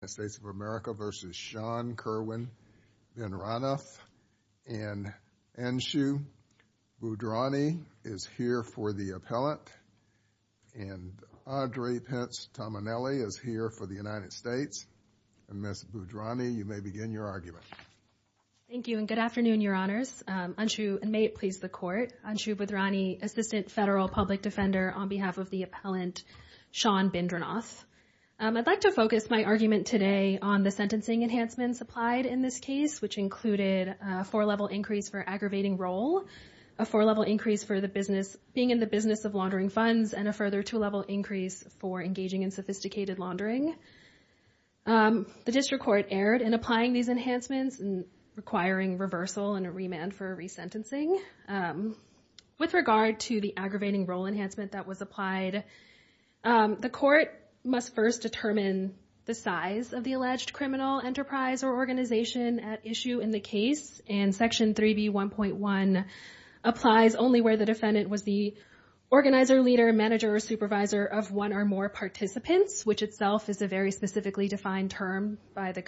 United States of America v. Sean Kerwin Bindranauth. And Anshu Bhudrani is here for the appellant. And Audrey Pence Tominelli is here for the United States. And Ms. Bhudrani, you may begin your argument. Thank you, and good afternoon, Your Honors. Anshu, and may it please the Court. Anshu Bhudrani, Assistant Federal Public Defender on behalf of the appellant, Sean Bindranauth. I'd like to focus my argument today on the sentencing enhancements applied in this case, which included a four-level increase for aggravating role, a four-level increase for the business being in the business of laundering funds, and a further two-level increase for engaging in sophisticated laundering. The District Court erred in applying these enhancements, requiring reversal and a remand for resentencing. With regard to the aggravating role enhancement that was applied, the Court must first determine the size of the alleged criminal, enterprise, or organization at issue in the case. And Section 3B1.1 applies only where the defendant was the organizer, leader, manager, or supervisor of one or more participants, which itself is a very specifically defined term by the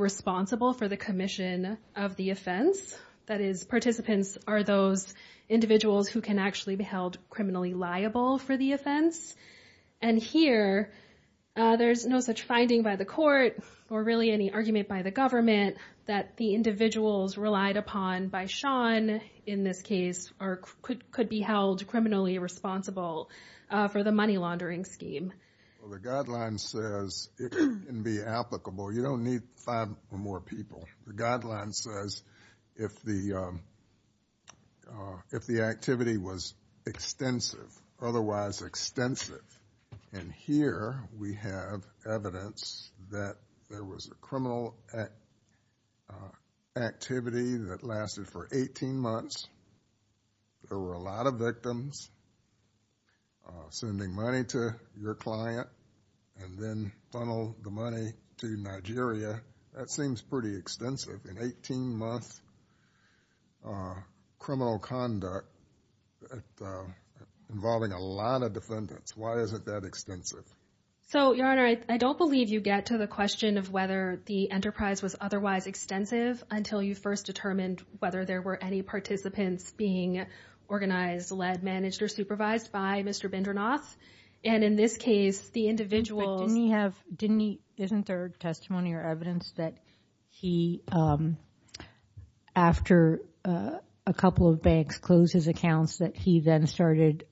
responsible for the commission of the offense. That is, participants are those individuals who can actually be held criminally liable for the offense. And here, there's no such finding by the Court, or really any argument by the government, that the individuals relied upon by Sean in this case could be held criminally responsible for the money laundering scheme. The guideline says it can be applicable. You don't need five or more people. The guideline says if the activity was extensive, otherwise extensive. And here, we have evidence that there was a criminal activity that lasted for 18 months. There were a lot of victims sending money to your client, and then funnel the money to Nigeria. That seems pretty extensive. An 18-month criminal conduct involving a lot of defendants. Why is it that extensive? So, Your Honor, I don't believe you get to the question of whether the enterprise was otherwise extensive until you first determined whether there were any participants being organized, led, managed, or supervised by Mr. Bindranoth. And in this case, the individuals... But didn't he have... Isn't there testimony or evidence that he, after a couple of banks closed his accounts, that he then started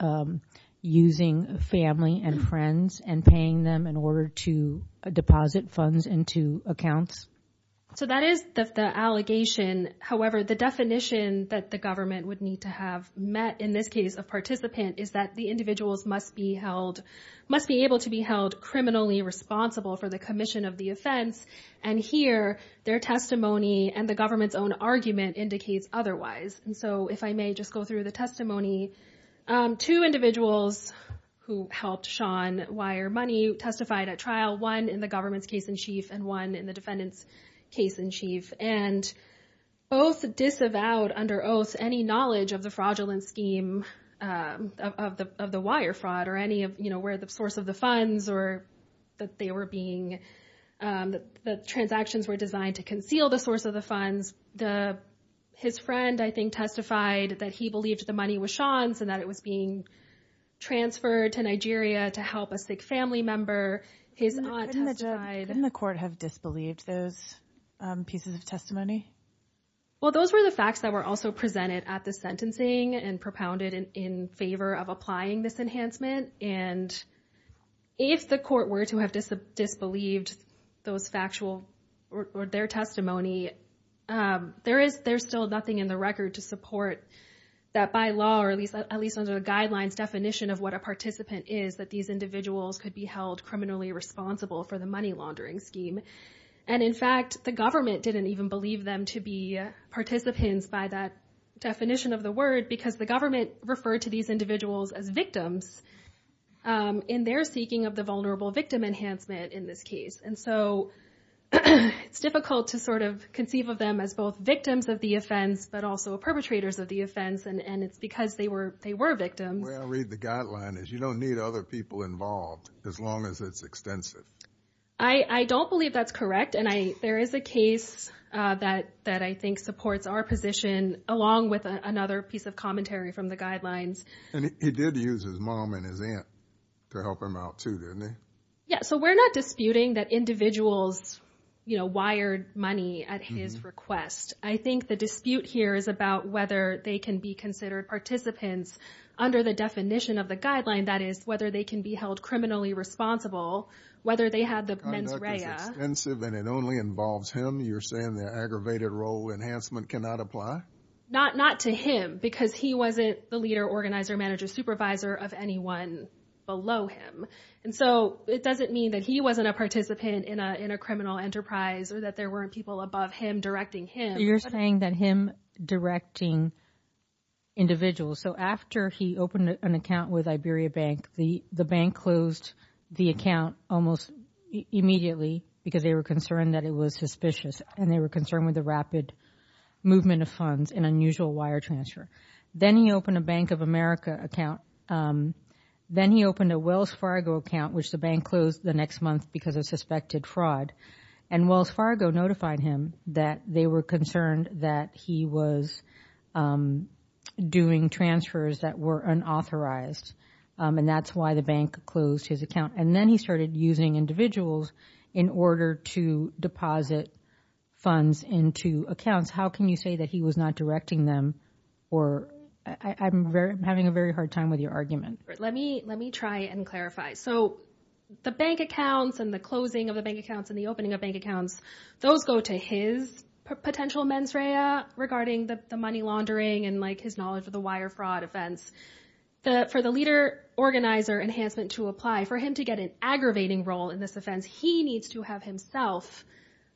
using family and friends and paying them in order to deposit funds into accounts? So that is the allegation. However, the definition that the government would need to have met in this case of participant is that the individuals must be able to be held criminally responsible for the commission of the offense. And here, their testimony and the government's own argument indicates otherwise. And so, if I may just go through the testimony. Two individuals who helped Sean wire money testified at trial. One in the government's case-in-chief and one in the defendant's case-in-chief. And both disavowed, under oath, any knowledge of the fraudulent scheme of the wire fraud or any of where the source of the funds or that they were being... The transactions were designed to conceal the source of the funds. His friend, I think, testified that he believed the money was Sean's and that it was being transferred to Nigeria to help a sick family member. His aunt testified... Disbelieved those pieces of testimony? Well, those were the facts that were also presented at the sentencing and propounded in favor of applying this enhancement. And if the court were to have disbelieved those factual or their testimony, there's still nothing in the record to support that by law, or at least under the guidelines definition of what a participant is, that these individuals could be held criminally responsible for the money laundering scheme. And in fact, the government didn't even believe them to be participants by that definition of the word because the government referred to these individuals as victims in their seeking of the vulnerable victim enhancement in this case. And so it's difficult to sort of conceive of them as both victims of the offense, but also perpetrators of the offense. And it's because they were victims. The way I read the guideline is you don't need other people involved as long as it's extensive. I don't believe that's correct. And there is a case that I think supports our position, along with another piece of commentary from the guidelines. And he did use his mom and his aunt to help him out too, didn't he? Yeah. So we're not disputing that individuals wired money at his request. I think the dispute here is about whether they can be considered participants under the definition of the guideline. That is, whether they can be held criminally responsible, whether they had the mens rea. The conduct is extensive and it only involves him. You're saying the aggravated role enhancement cannot apply? Not to him because he wasn't the leader, organizer, manager, supervisor of anyone below him. And so it doesn't mean that he wasn't a participant in a criminal enterprise or that there weren't people above him directing him. You're saying that him directing individuals. So after he opened an account with Iberia Bank, the bank closed the account almost immediately because they were concerned that it was suspicious and they were concerned with the rapid movement of funds and unusual wire transfer. Then he opened a Bank of America account. Then he opened a Wells Fargo account, which the bank closed the next month because of suspected fraud. And Wells Fargo notified him that they were concerned that he was doing transfers that were unauthorized. And that's why the bank closed his account. And then he started using individuals in order to deposit funds into accounts. How can you say that he was not directing them? I'm having a very hard time with your argument. Let me try and clarify. So the bank accounts and the closing of the bank accounts and the opening of bank accounts, those go to his potential mens rea regarding the money laundering and his knowledge of the wire fraud offense. For the leader organizer enhancement to apply, for him to get an aggravating role in this offense, he needs to have himself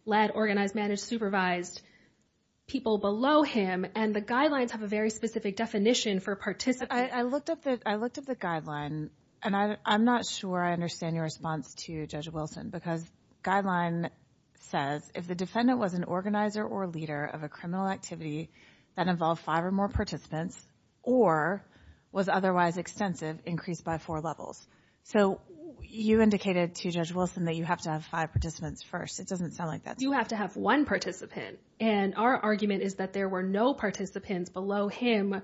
led, organized, managed, supervised people below him. And the guidelines have a very specific definition for participants. I looked up the guideline and I'm not sure I understand your definition. It says, if the defendant was an organizer or leader of a criminal activity that involved five or more participants or was otherwise extensive, increased by four levels. So you indicated to Judge Wilson that you have to have five participants first. It doesn't sound like that. You have to have one participant. And our argument is that there were no participants below him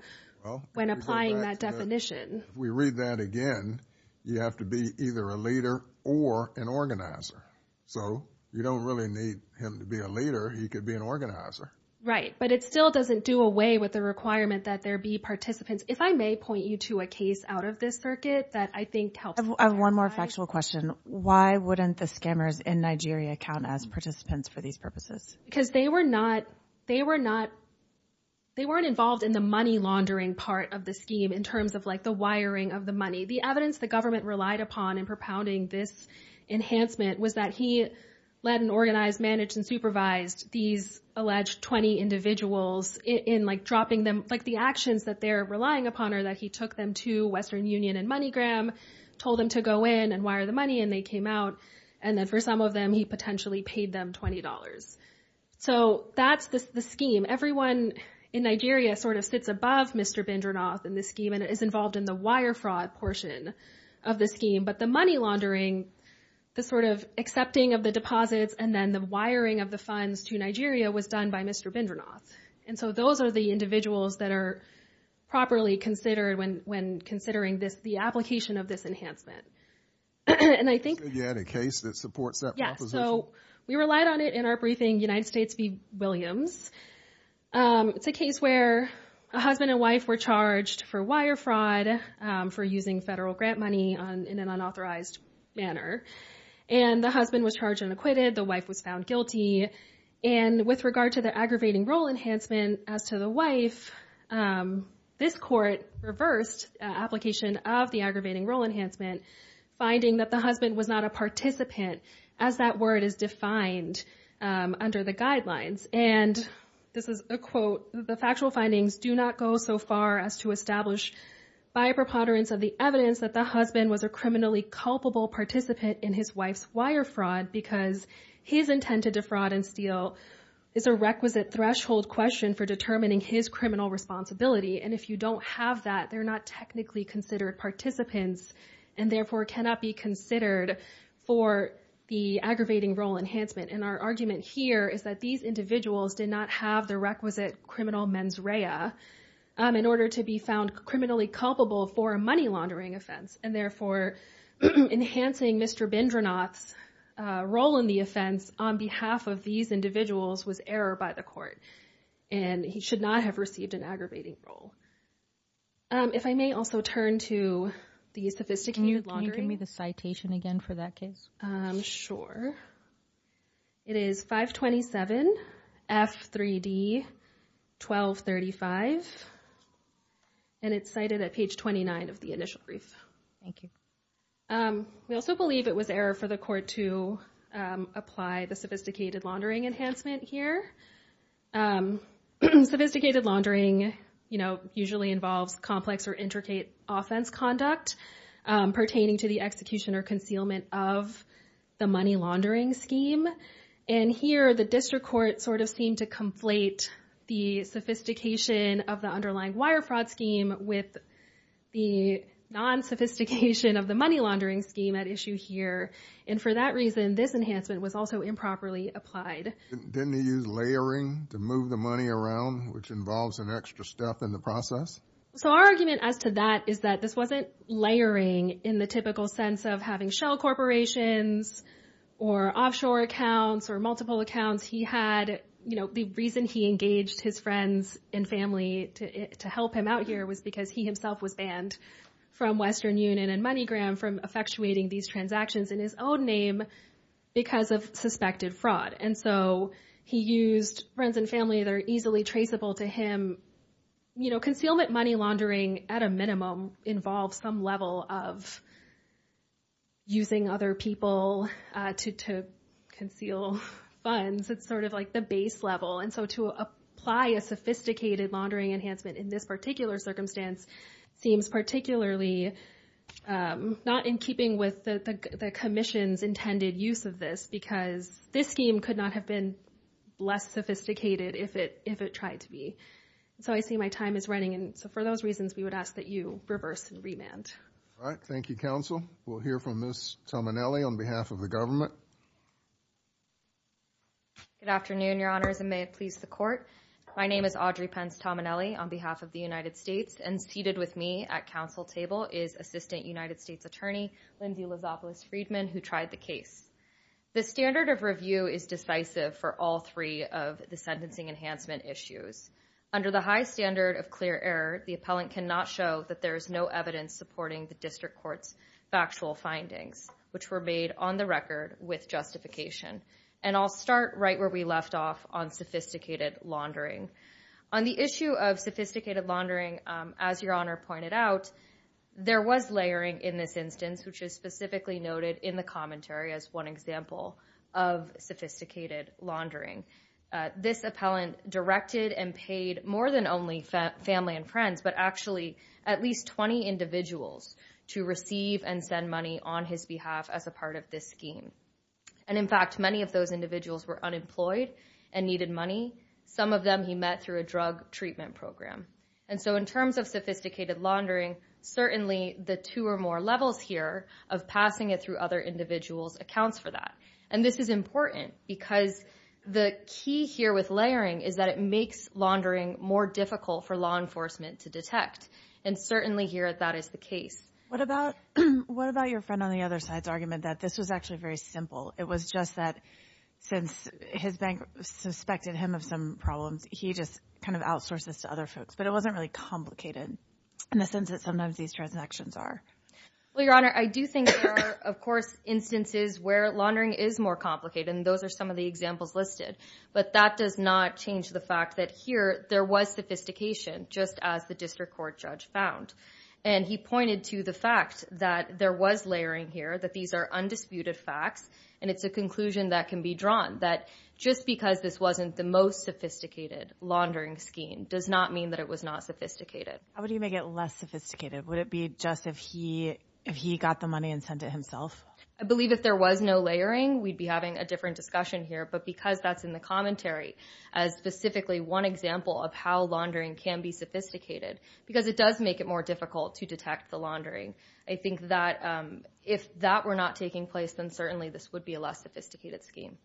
when applying that definition. If we read that again, you have to be either a leader or an organizer. So you don't really need him to be a leader. He could be an organizer. Right. But it still doesn't do away with the requirement that there be participants. If I may point you to a case out of this circuit that I think helps. I have one more factual question. Why wouldn't the scammers in Nigeria count as participants for these purposes? Because they were not, they were not, they weren't involved in the money laundering part of the scheme in terms of like the wiring of the money. The evidence the government relied upon in propounding this enhancement was that he led and organized, managed, and supervised these alleged 20 individuals in like dropping them, like the actions that they're relying upon are that he took them to Western Union and MoneyGram, told them to go in and wire the money and they came out. And then for some of them, he potentially paid them $20. So that's the scheme. Everyone in Nigeria sort of sits above Mr. Bindernoth in this scheme and is involved in the wire fraud portion of the scheme. But the money laundering, the sort of accepting of the deposits, and then the wiring of the funds to Nigeria was done by Mr. Bindernoth. And so those are the individuals that are properly considered when, when considering this, the application of this enhancement. And I think. So you had a case that supports that proposition? Yeah. So we relied on it in our briefing, United States v. Williams. It's a case where a husband and wife were charged for wire fraud for using federal grant money on, in an unauthorized manner. And the husband was charged and acquitted. The wife was found guilty. And with regard to the aggravating role enhancement as to the wife, this court reversed application of the aggravating role enhancement, finding that the husband was not a participant as that word is defined under the guidelines. And this is a quote, the factual findings do not go so far as to establish by a preponderance of the evidence that the husband was a criminally culpable participant in his wife's wire fraud, because his intent to defraud and steal is a requisite threshold question for determining his criminal responsibility. And if you don't have that, they're not technically considered participants and therefore cannot be considered for the aggravating role enhancement. And our have the requisite criminal mens rea in order to be found criminally culpable for a money laundering offense and therefore enhancing Mr. Bindranath's role in the offense on behalf of these individuals was error by the court. And he should not have received an aggravating role. If I may also turn to the sophisticated laundering. Can you give me the citation again for that case? Sure. It is 527 F3D 1235. And it's cited at page 29 of the initial brief. Thank you. We also believe it was error for the court to apply the sophisticated laundering enhancement here. Sophisticated laundering, you know, usually involves complex or intricate offense conduct pertaining to the execution or concealment of the money laundering scheme. And here the district court sort of seemed to conflate the sophistication of the underlying wire fraud scheme with the non sophistication of the money laundering scheme at issue here. And for that reason, this enhancement was also improperly applied. Didn't he use layering to move the money around, which involves an extra step in the process? So our argument as to that is that this wasn't layering in the typical sense of having shell corporations or offshore accounts or multiple accounts. He had, you know, the reason he engaged his friends and family to help him out here was because he himself was banned from Western Union and MoneyGram from effectuating these transactions in his own name because of suspected fraud. And so he used friends and family that are easily traceable to him. You know, concealment money laundering at a minimum involves some level of using other people to conceal funds. It's sort of like the base level. And so to apply a sophisticated laundering enhancement in this particular circumstance seems particularly not in keeping with the commission's intended use of this because this scheme could not have been less sophisticated if it tried to be. So I see my time is running. And so for those reasons, we would ask that you reverse and remand. All right. Thank you, counsel. We'll hear from Ms. Tominelli on behalf of the government. Good afternoon, your honors, and may it please the court. My name is Audrey Pence Tominelli on behalf of the United States. And seated with me at council table is Assistant United States Attorney Lindsay Lizopoulos-Friedman, who tried the case. The standard of review is decisive for all three of the sentencing enhancement issues. Under the high standard of clear error, the appellant cannot show that there is no evidence supporting the district court's factual findings, which were made on the record with justification. And I'll start right where we left off on sophisticated laundering. On the issue of sophisticated laundering, as your honor pointed out, there was layering in this instance, which is specifically noted in the commentary as one example of sophisticated laundering. This appellant directed and paid more than only family and friends, but actually at least 20 individuals to receive and send money on his behalf as a part of this scheme. And in fact, many of those individuals were unemployed and needed money. Some of them he met through a drug treatment program. And so in terms of sophisticated laundering, certainly the two or more levels here of passing it through other individuals accounts for that. And this is important because the key here with layering is that it makes laundering more difficult for law enforcement to detect. And certainly here that is the case. What about, what about your friend on the other side's argument that this was actually very simple? It was just that since his bank suspected him of some problems, he just kind of outsourced this to other folks, but it wasn't really complicated in the sense that sometimes these transactions are. Well, your honor, I do think there are of course instances where laundering is more complicated and those are some of the examples listed, but that does not change the fact that here there was sophistication just as the district court judge found. And he pointed to the fact that there was layering here, that these are undisputed facts. And it's a conclusion that can be drawn that just because this wasn't the most sophisticated laundering scheme does not mean that it was not sophisticated. How would you make it less sophisticated? Would it be just if he, if he got the money and sent it himself? I believe if there was no layering, we'd be having a different discussion here, but because that's in the commentary as specifically one example of how laundering can be sophisticated, because it does make it more difficult to detect the laundering. I think that if that were not taking place, then certainly this would be a less sophisticated scheme.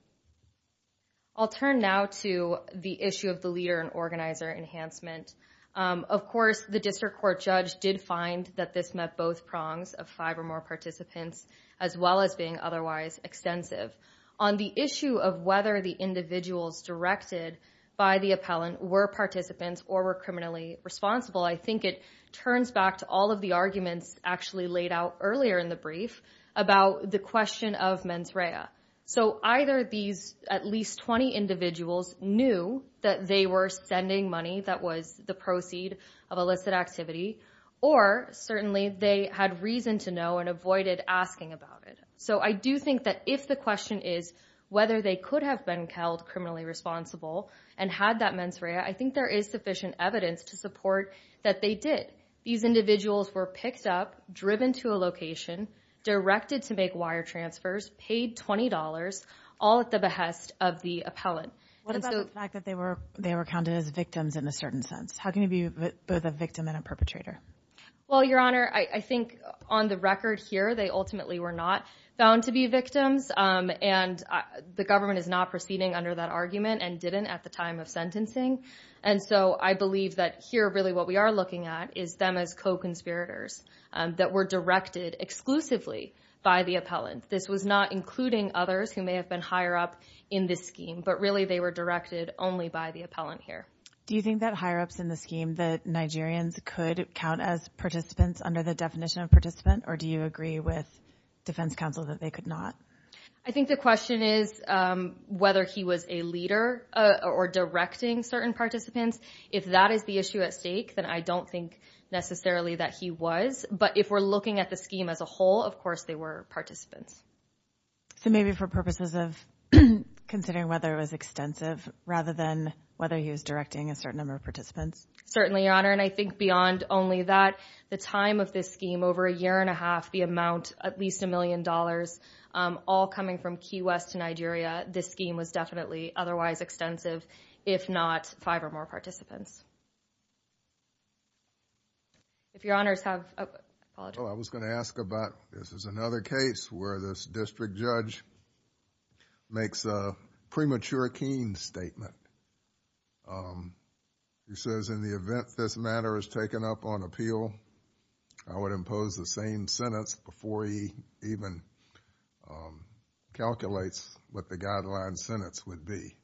I'll turn now to the issue of the leader and organizer enhancement. Of course, the district court judge did find that this met both prongs of five or more participants as well as being otherwise extensive. On the issue of whether the individuals directed by the appellant were participants or were criminally responsible, I think it turns back to all of the arguments actually laid out earlier in the brief about the question of mens rea. So either these at least 20 individuals knew that they were sending money that was the proceed of illicit activity, or certainly they had reason to know and avoided asking about it. So I do think that if the question is whether they could have been held criminally responsible and had that mens rea, I think there is sufficient evidence to support that they did. These individuals were picked up, driven to a location, directed to make wire transfers, paid $20, all at the behest of the appellant. What about the fact that they were counted as victims in a certain sense? How can you be both a victim and a perpetrator? Well, Your Honor, I think on the record here, they ultimately were not found to be victims, and the government is not proceeding under that argument and didn't at the time of sentencing. And so I believe that here really what we are looking at is them as co-conspirators that were directed exclusively by the appellant. This was not including others who may have been higher up in this scheme, but really they were directed only by the appellant here. Do you think that higher ups in the scheme, that Nigerians could count as participants under the definition of participant, or do you agree with defense counsel that they could not? I think the question is whether he was a leader or directing certain participants. If that is the issue at stake, then I don't think necessarily that he was. But if we're looking at the scheme as a whole, of course they were participants. So maybe for purposes of considering whether it was extensive rather than whether he was directing a certain number of participants. Certainly, Your Honor. And I think beyond only that, the time of this scheme, over a year and a half, the amount, at least a million dollars, all coming from Key West to Nigeria, this scheme was definitely otherwise extensive, if not five or more participants. If Your Honors have, oh, I apologize. Oh, I was going to ask about, this is another case where this district judge makes a premature Keene statement. He says, in the event this matter is before he even calculates what the guideline sentence would be.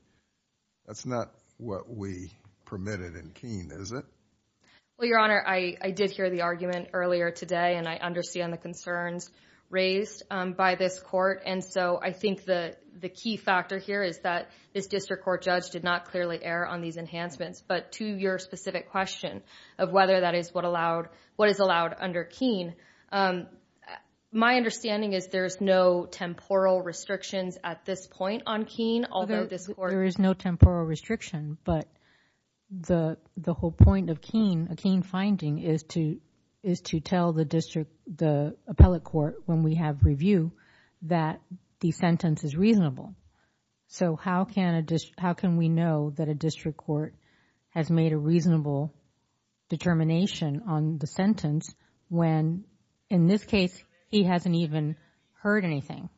That's not what we permitted in Keene, is it? Well, Your Honor, I did hear the argument earlier today, and I understand the concerns raised by this court. And so I think the key factor here is that this district court judge did not clearly err on these enhancements. But to your specific question of whether that is what is allowed under Keene, my understanding is there's no temporal restrictions at this point on Keene, although this court- There is no temporal restriction, but the whole point of Keene, a Keene finding, is to tell the district, the appellate court, when we have review, that the sentence is reasonable. So how can we know that a district court has made a reasonable determination on the sentence when, in this case, he hasn't even heard anything?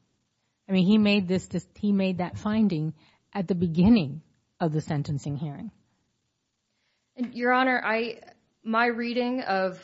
I mean, he made this, he made that finding at the beginning of the sentencing hearing. Your Honor, I, my reading of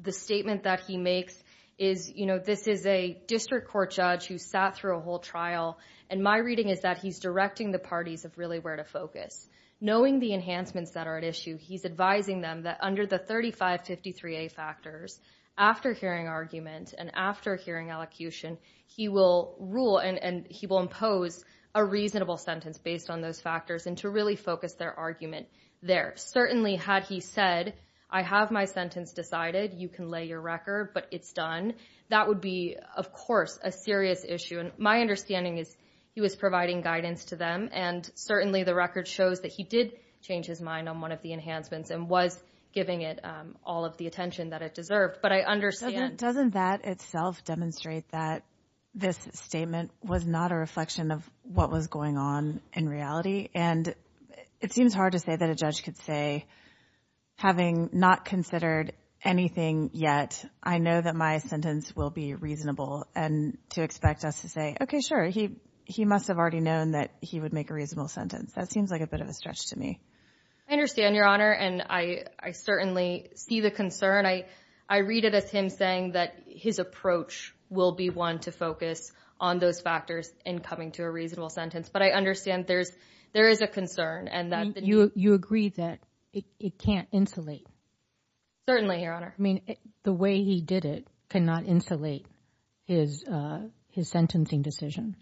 the statement that he makes is, you know, this is a district court judge who sat through a whole trial, and my reading is that he's directing the parties of really where to focus. Knowing the enhancements that are at issue, he's advising them that under the 3553A factors, after hearing argument and after hearing elocution, he will rule and he will impose a reasonable sentence based on those factors and to really focus their argument there. Certainly, had he said, I have my sentence decided, you can lay your record, but it's done, that would be, of course, a serious issue. And my understanding is he was providing guidance to them, and certainly the record shows that he did change his mind on one of the enhancements and was giving it all of the attention that it deserved, but I understand. Doesn't that itself demonstrate that this statement was not a reflection of what was going on in reality? And it seems hard to say that a judge could say, having not considered anything yet, I know that my sentence will be reasonable, and to expect us to say, okay, sure, he must have already known that he would make a reasonable sentence. That seems like a bit of a I certainly see the concern. I read it as him saying that his approach will be one to focus on those factors in coming to a reasonable sentence, but I understand there is a concern. And you agree that it can't insulate? Certainly, Your Honor. I mean, the way he did it cannot insulate his sentencing decision.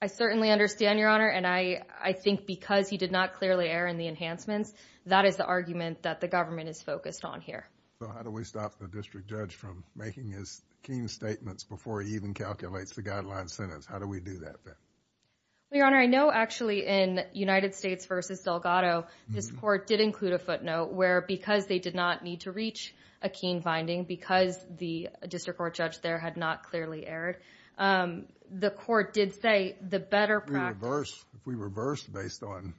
I certainly understand, Your Honor, and I think because he did not clearly err in the enhancements, that is the argument that the government is focused on here. So how do we stop the district judge from making his keen statements before he even calculates the guideline sentence? How do we do that then? Well, Your Honor, I know actually in United States v. Delgado, this court did include a footnote where because they did not need to reach a keen finding, because the district court judge there had not clearly erred, the court did say the better practice if we reverse based on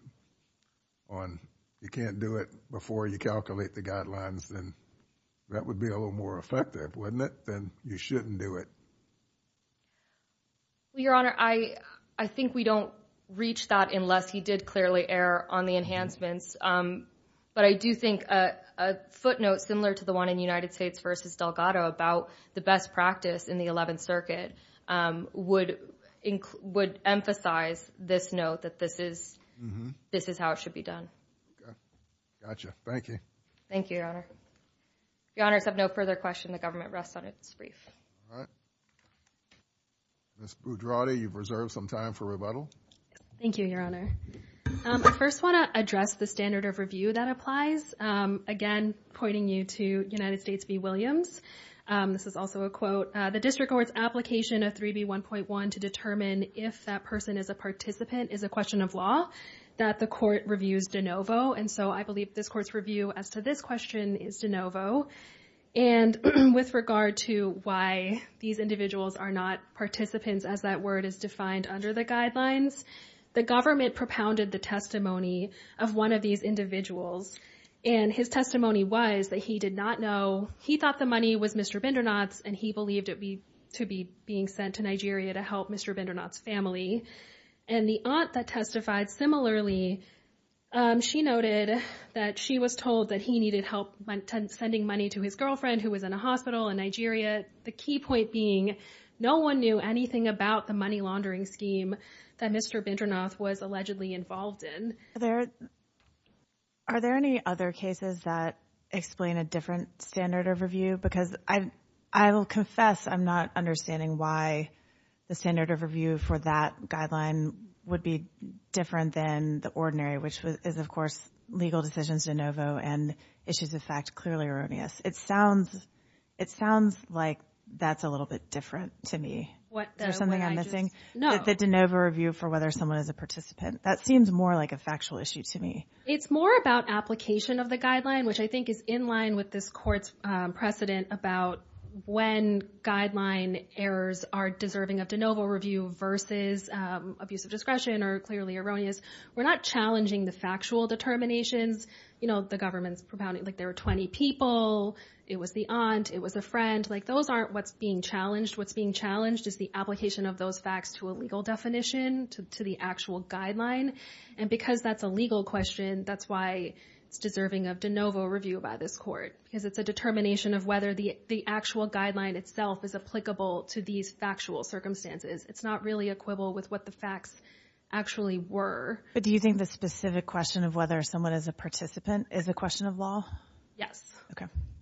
you can't do it before you calculate the guidelines, then that would be a little more effective, wouldn't it? Then you shouldn't do it. Your Honor, I think we don't reach that unless he did clearly err on the enhancements. But I do think a footnote similar to the one in United States v. Delgado about the best practice in the Eleventh Circuit would emphasize this note that this is how it should be done. Gotcha. Thank you. Thank you, Your Honor. Your Honor, if you have no further questions, the government rests on its brief. All right. Ms. Budrotti, you've reserved some time for rebuttal. Thank you, Your Honor. I first want to address the standard of review that applies. Again, pointing you to United States v. Williams. This is also a quote. The district court's application of 3B1.1 to determine if that person is a participant is a question of law that the court reviews de novo. And so I believe this court's review as to this question is de novo. And with regard to why these individuals are not participants as that word is defined under the guidelines, the government propounded the testimony of one of these individuals and his testimony was that he did not know. He thought the money was Mr. Bindernoth's and he believed it be to be being sent to Nigeria to help Mr. Bindernoth's family. And the aunt that testified similarly, she noted that she was told that he needed help sending money to his girlfriend who was in a hospital in Nigeria. The key point being no one knew anything about the money laundering scheme that Mr. Bindernoth was allegedly involved in. There are there any other cases that explain a different standard of review? Because I will confess I'm not understanding why the standard of review for that guideline would be different than the ordinary, which is, of course, legal decisions de novo and issues of fact clearly erroneous. It sounds it sounds like that's a little bit different to me. What is something I'm missing? No, the de novo review for whether someone is a participant. That seems more like a factual issue to me. It's more about application of the guideline, which I think is in line with this court's precedent about when guideline errors are deserving of de novo review versus abuse of discretion are clearly erroneous. We're not challenging the factual determinations. You know, the government's propounding like there are 20 people. It was the aunt. It was a friend like those aren't what's being challenged. What's being challenged is the application of those facts to a legal definition to the actual guideline. And because that's a legal question, that's why it's deserving of de novo review by this court, because it's a determination of whether the actual guideline itself is applicable to these factual circumstances. It's not really equivalent with what the facts actually were. But do you think the specific question of whether someone is a participant is a question of law? Yes,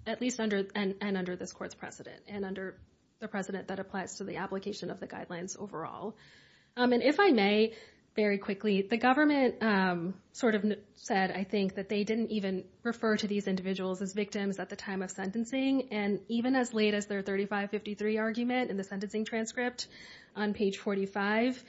at least under and under this court's precedent and under the precedent that applies to the application of the guidelines overall. And if I may, very quickly, the government sort of said, I think, that they didn't even refer to these individuals as victims at the time of sentencing. And even as late as their 3553 argument in the sentencing transcript on page 45,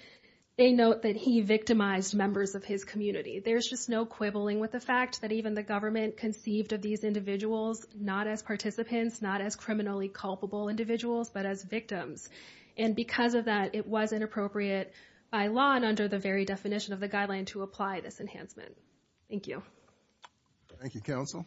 they note that he victimized members of his community. There's just no quibbling with the fact that even the government conceived of these individuals not as participants, not as criminally culpable individuals, but as victims. And because of that, it was inappropriate by law and under the very definition of the guideline to apply this enhancement. Thank you. Thank you, counsel.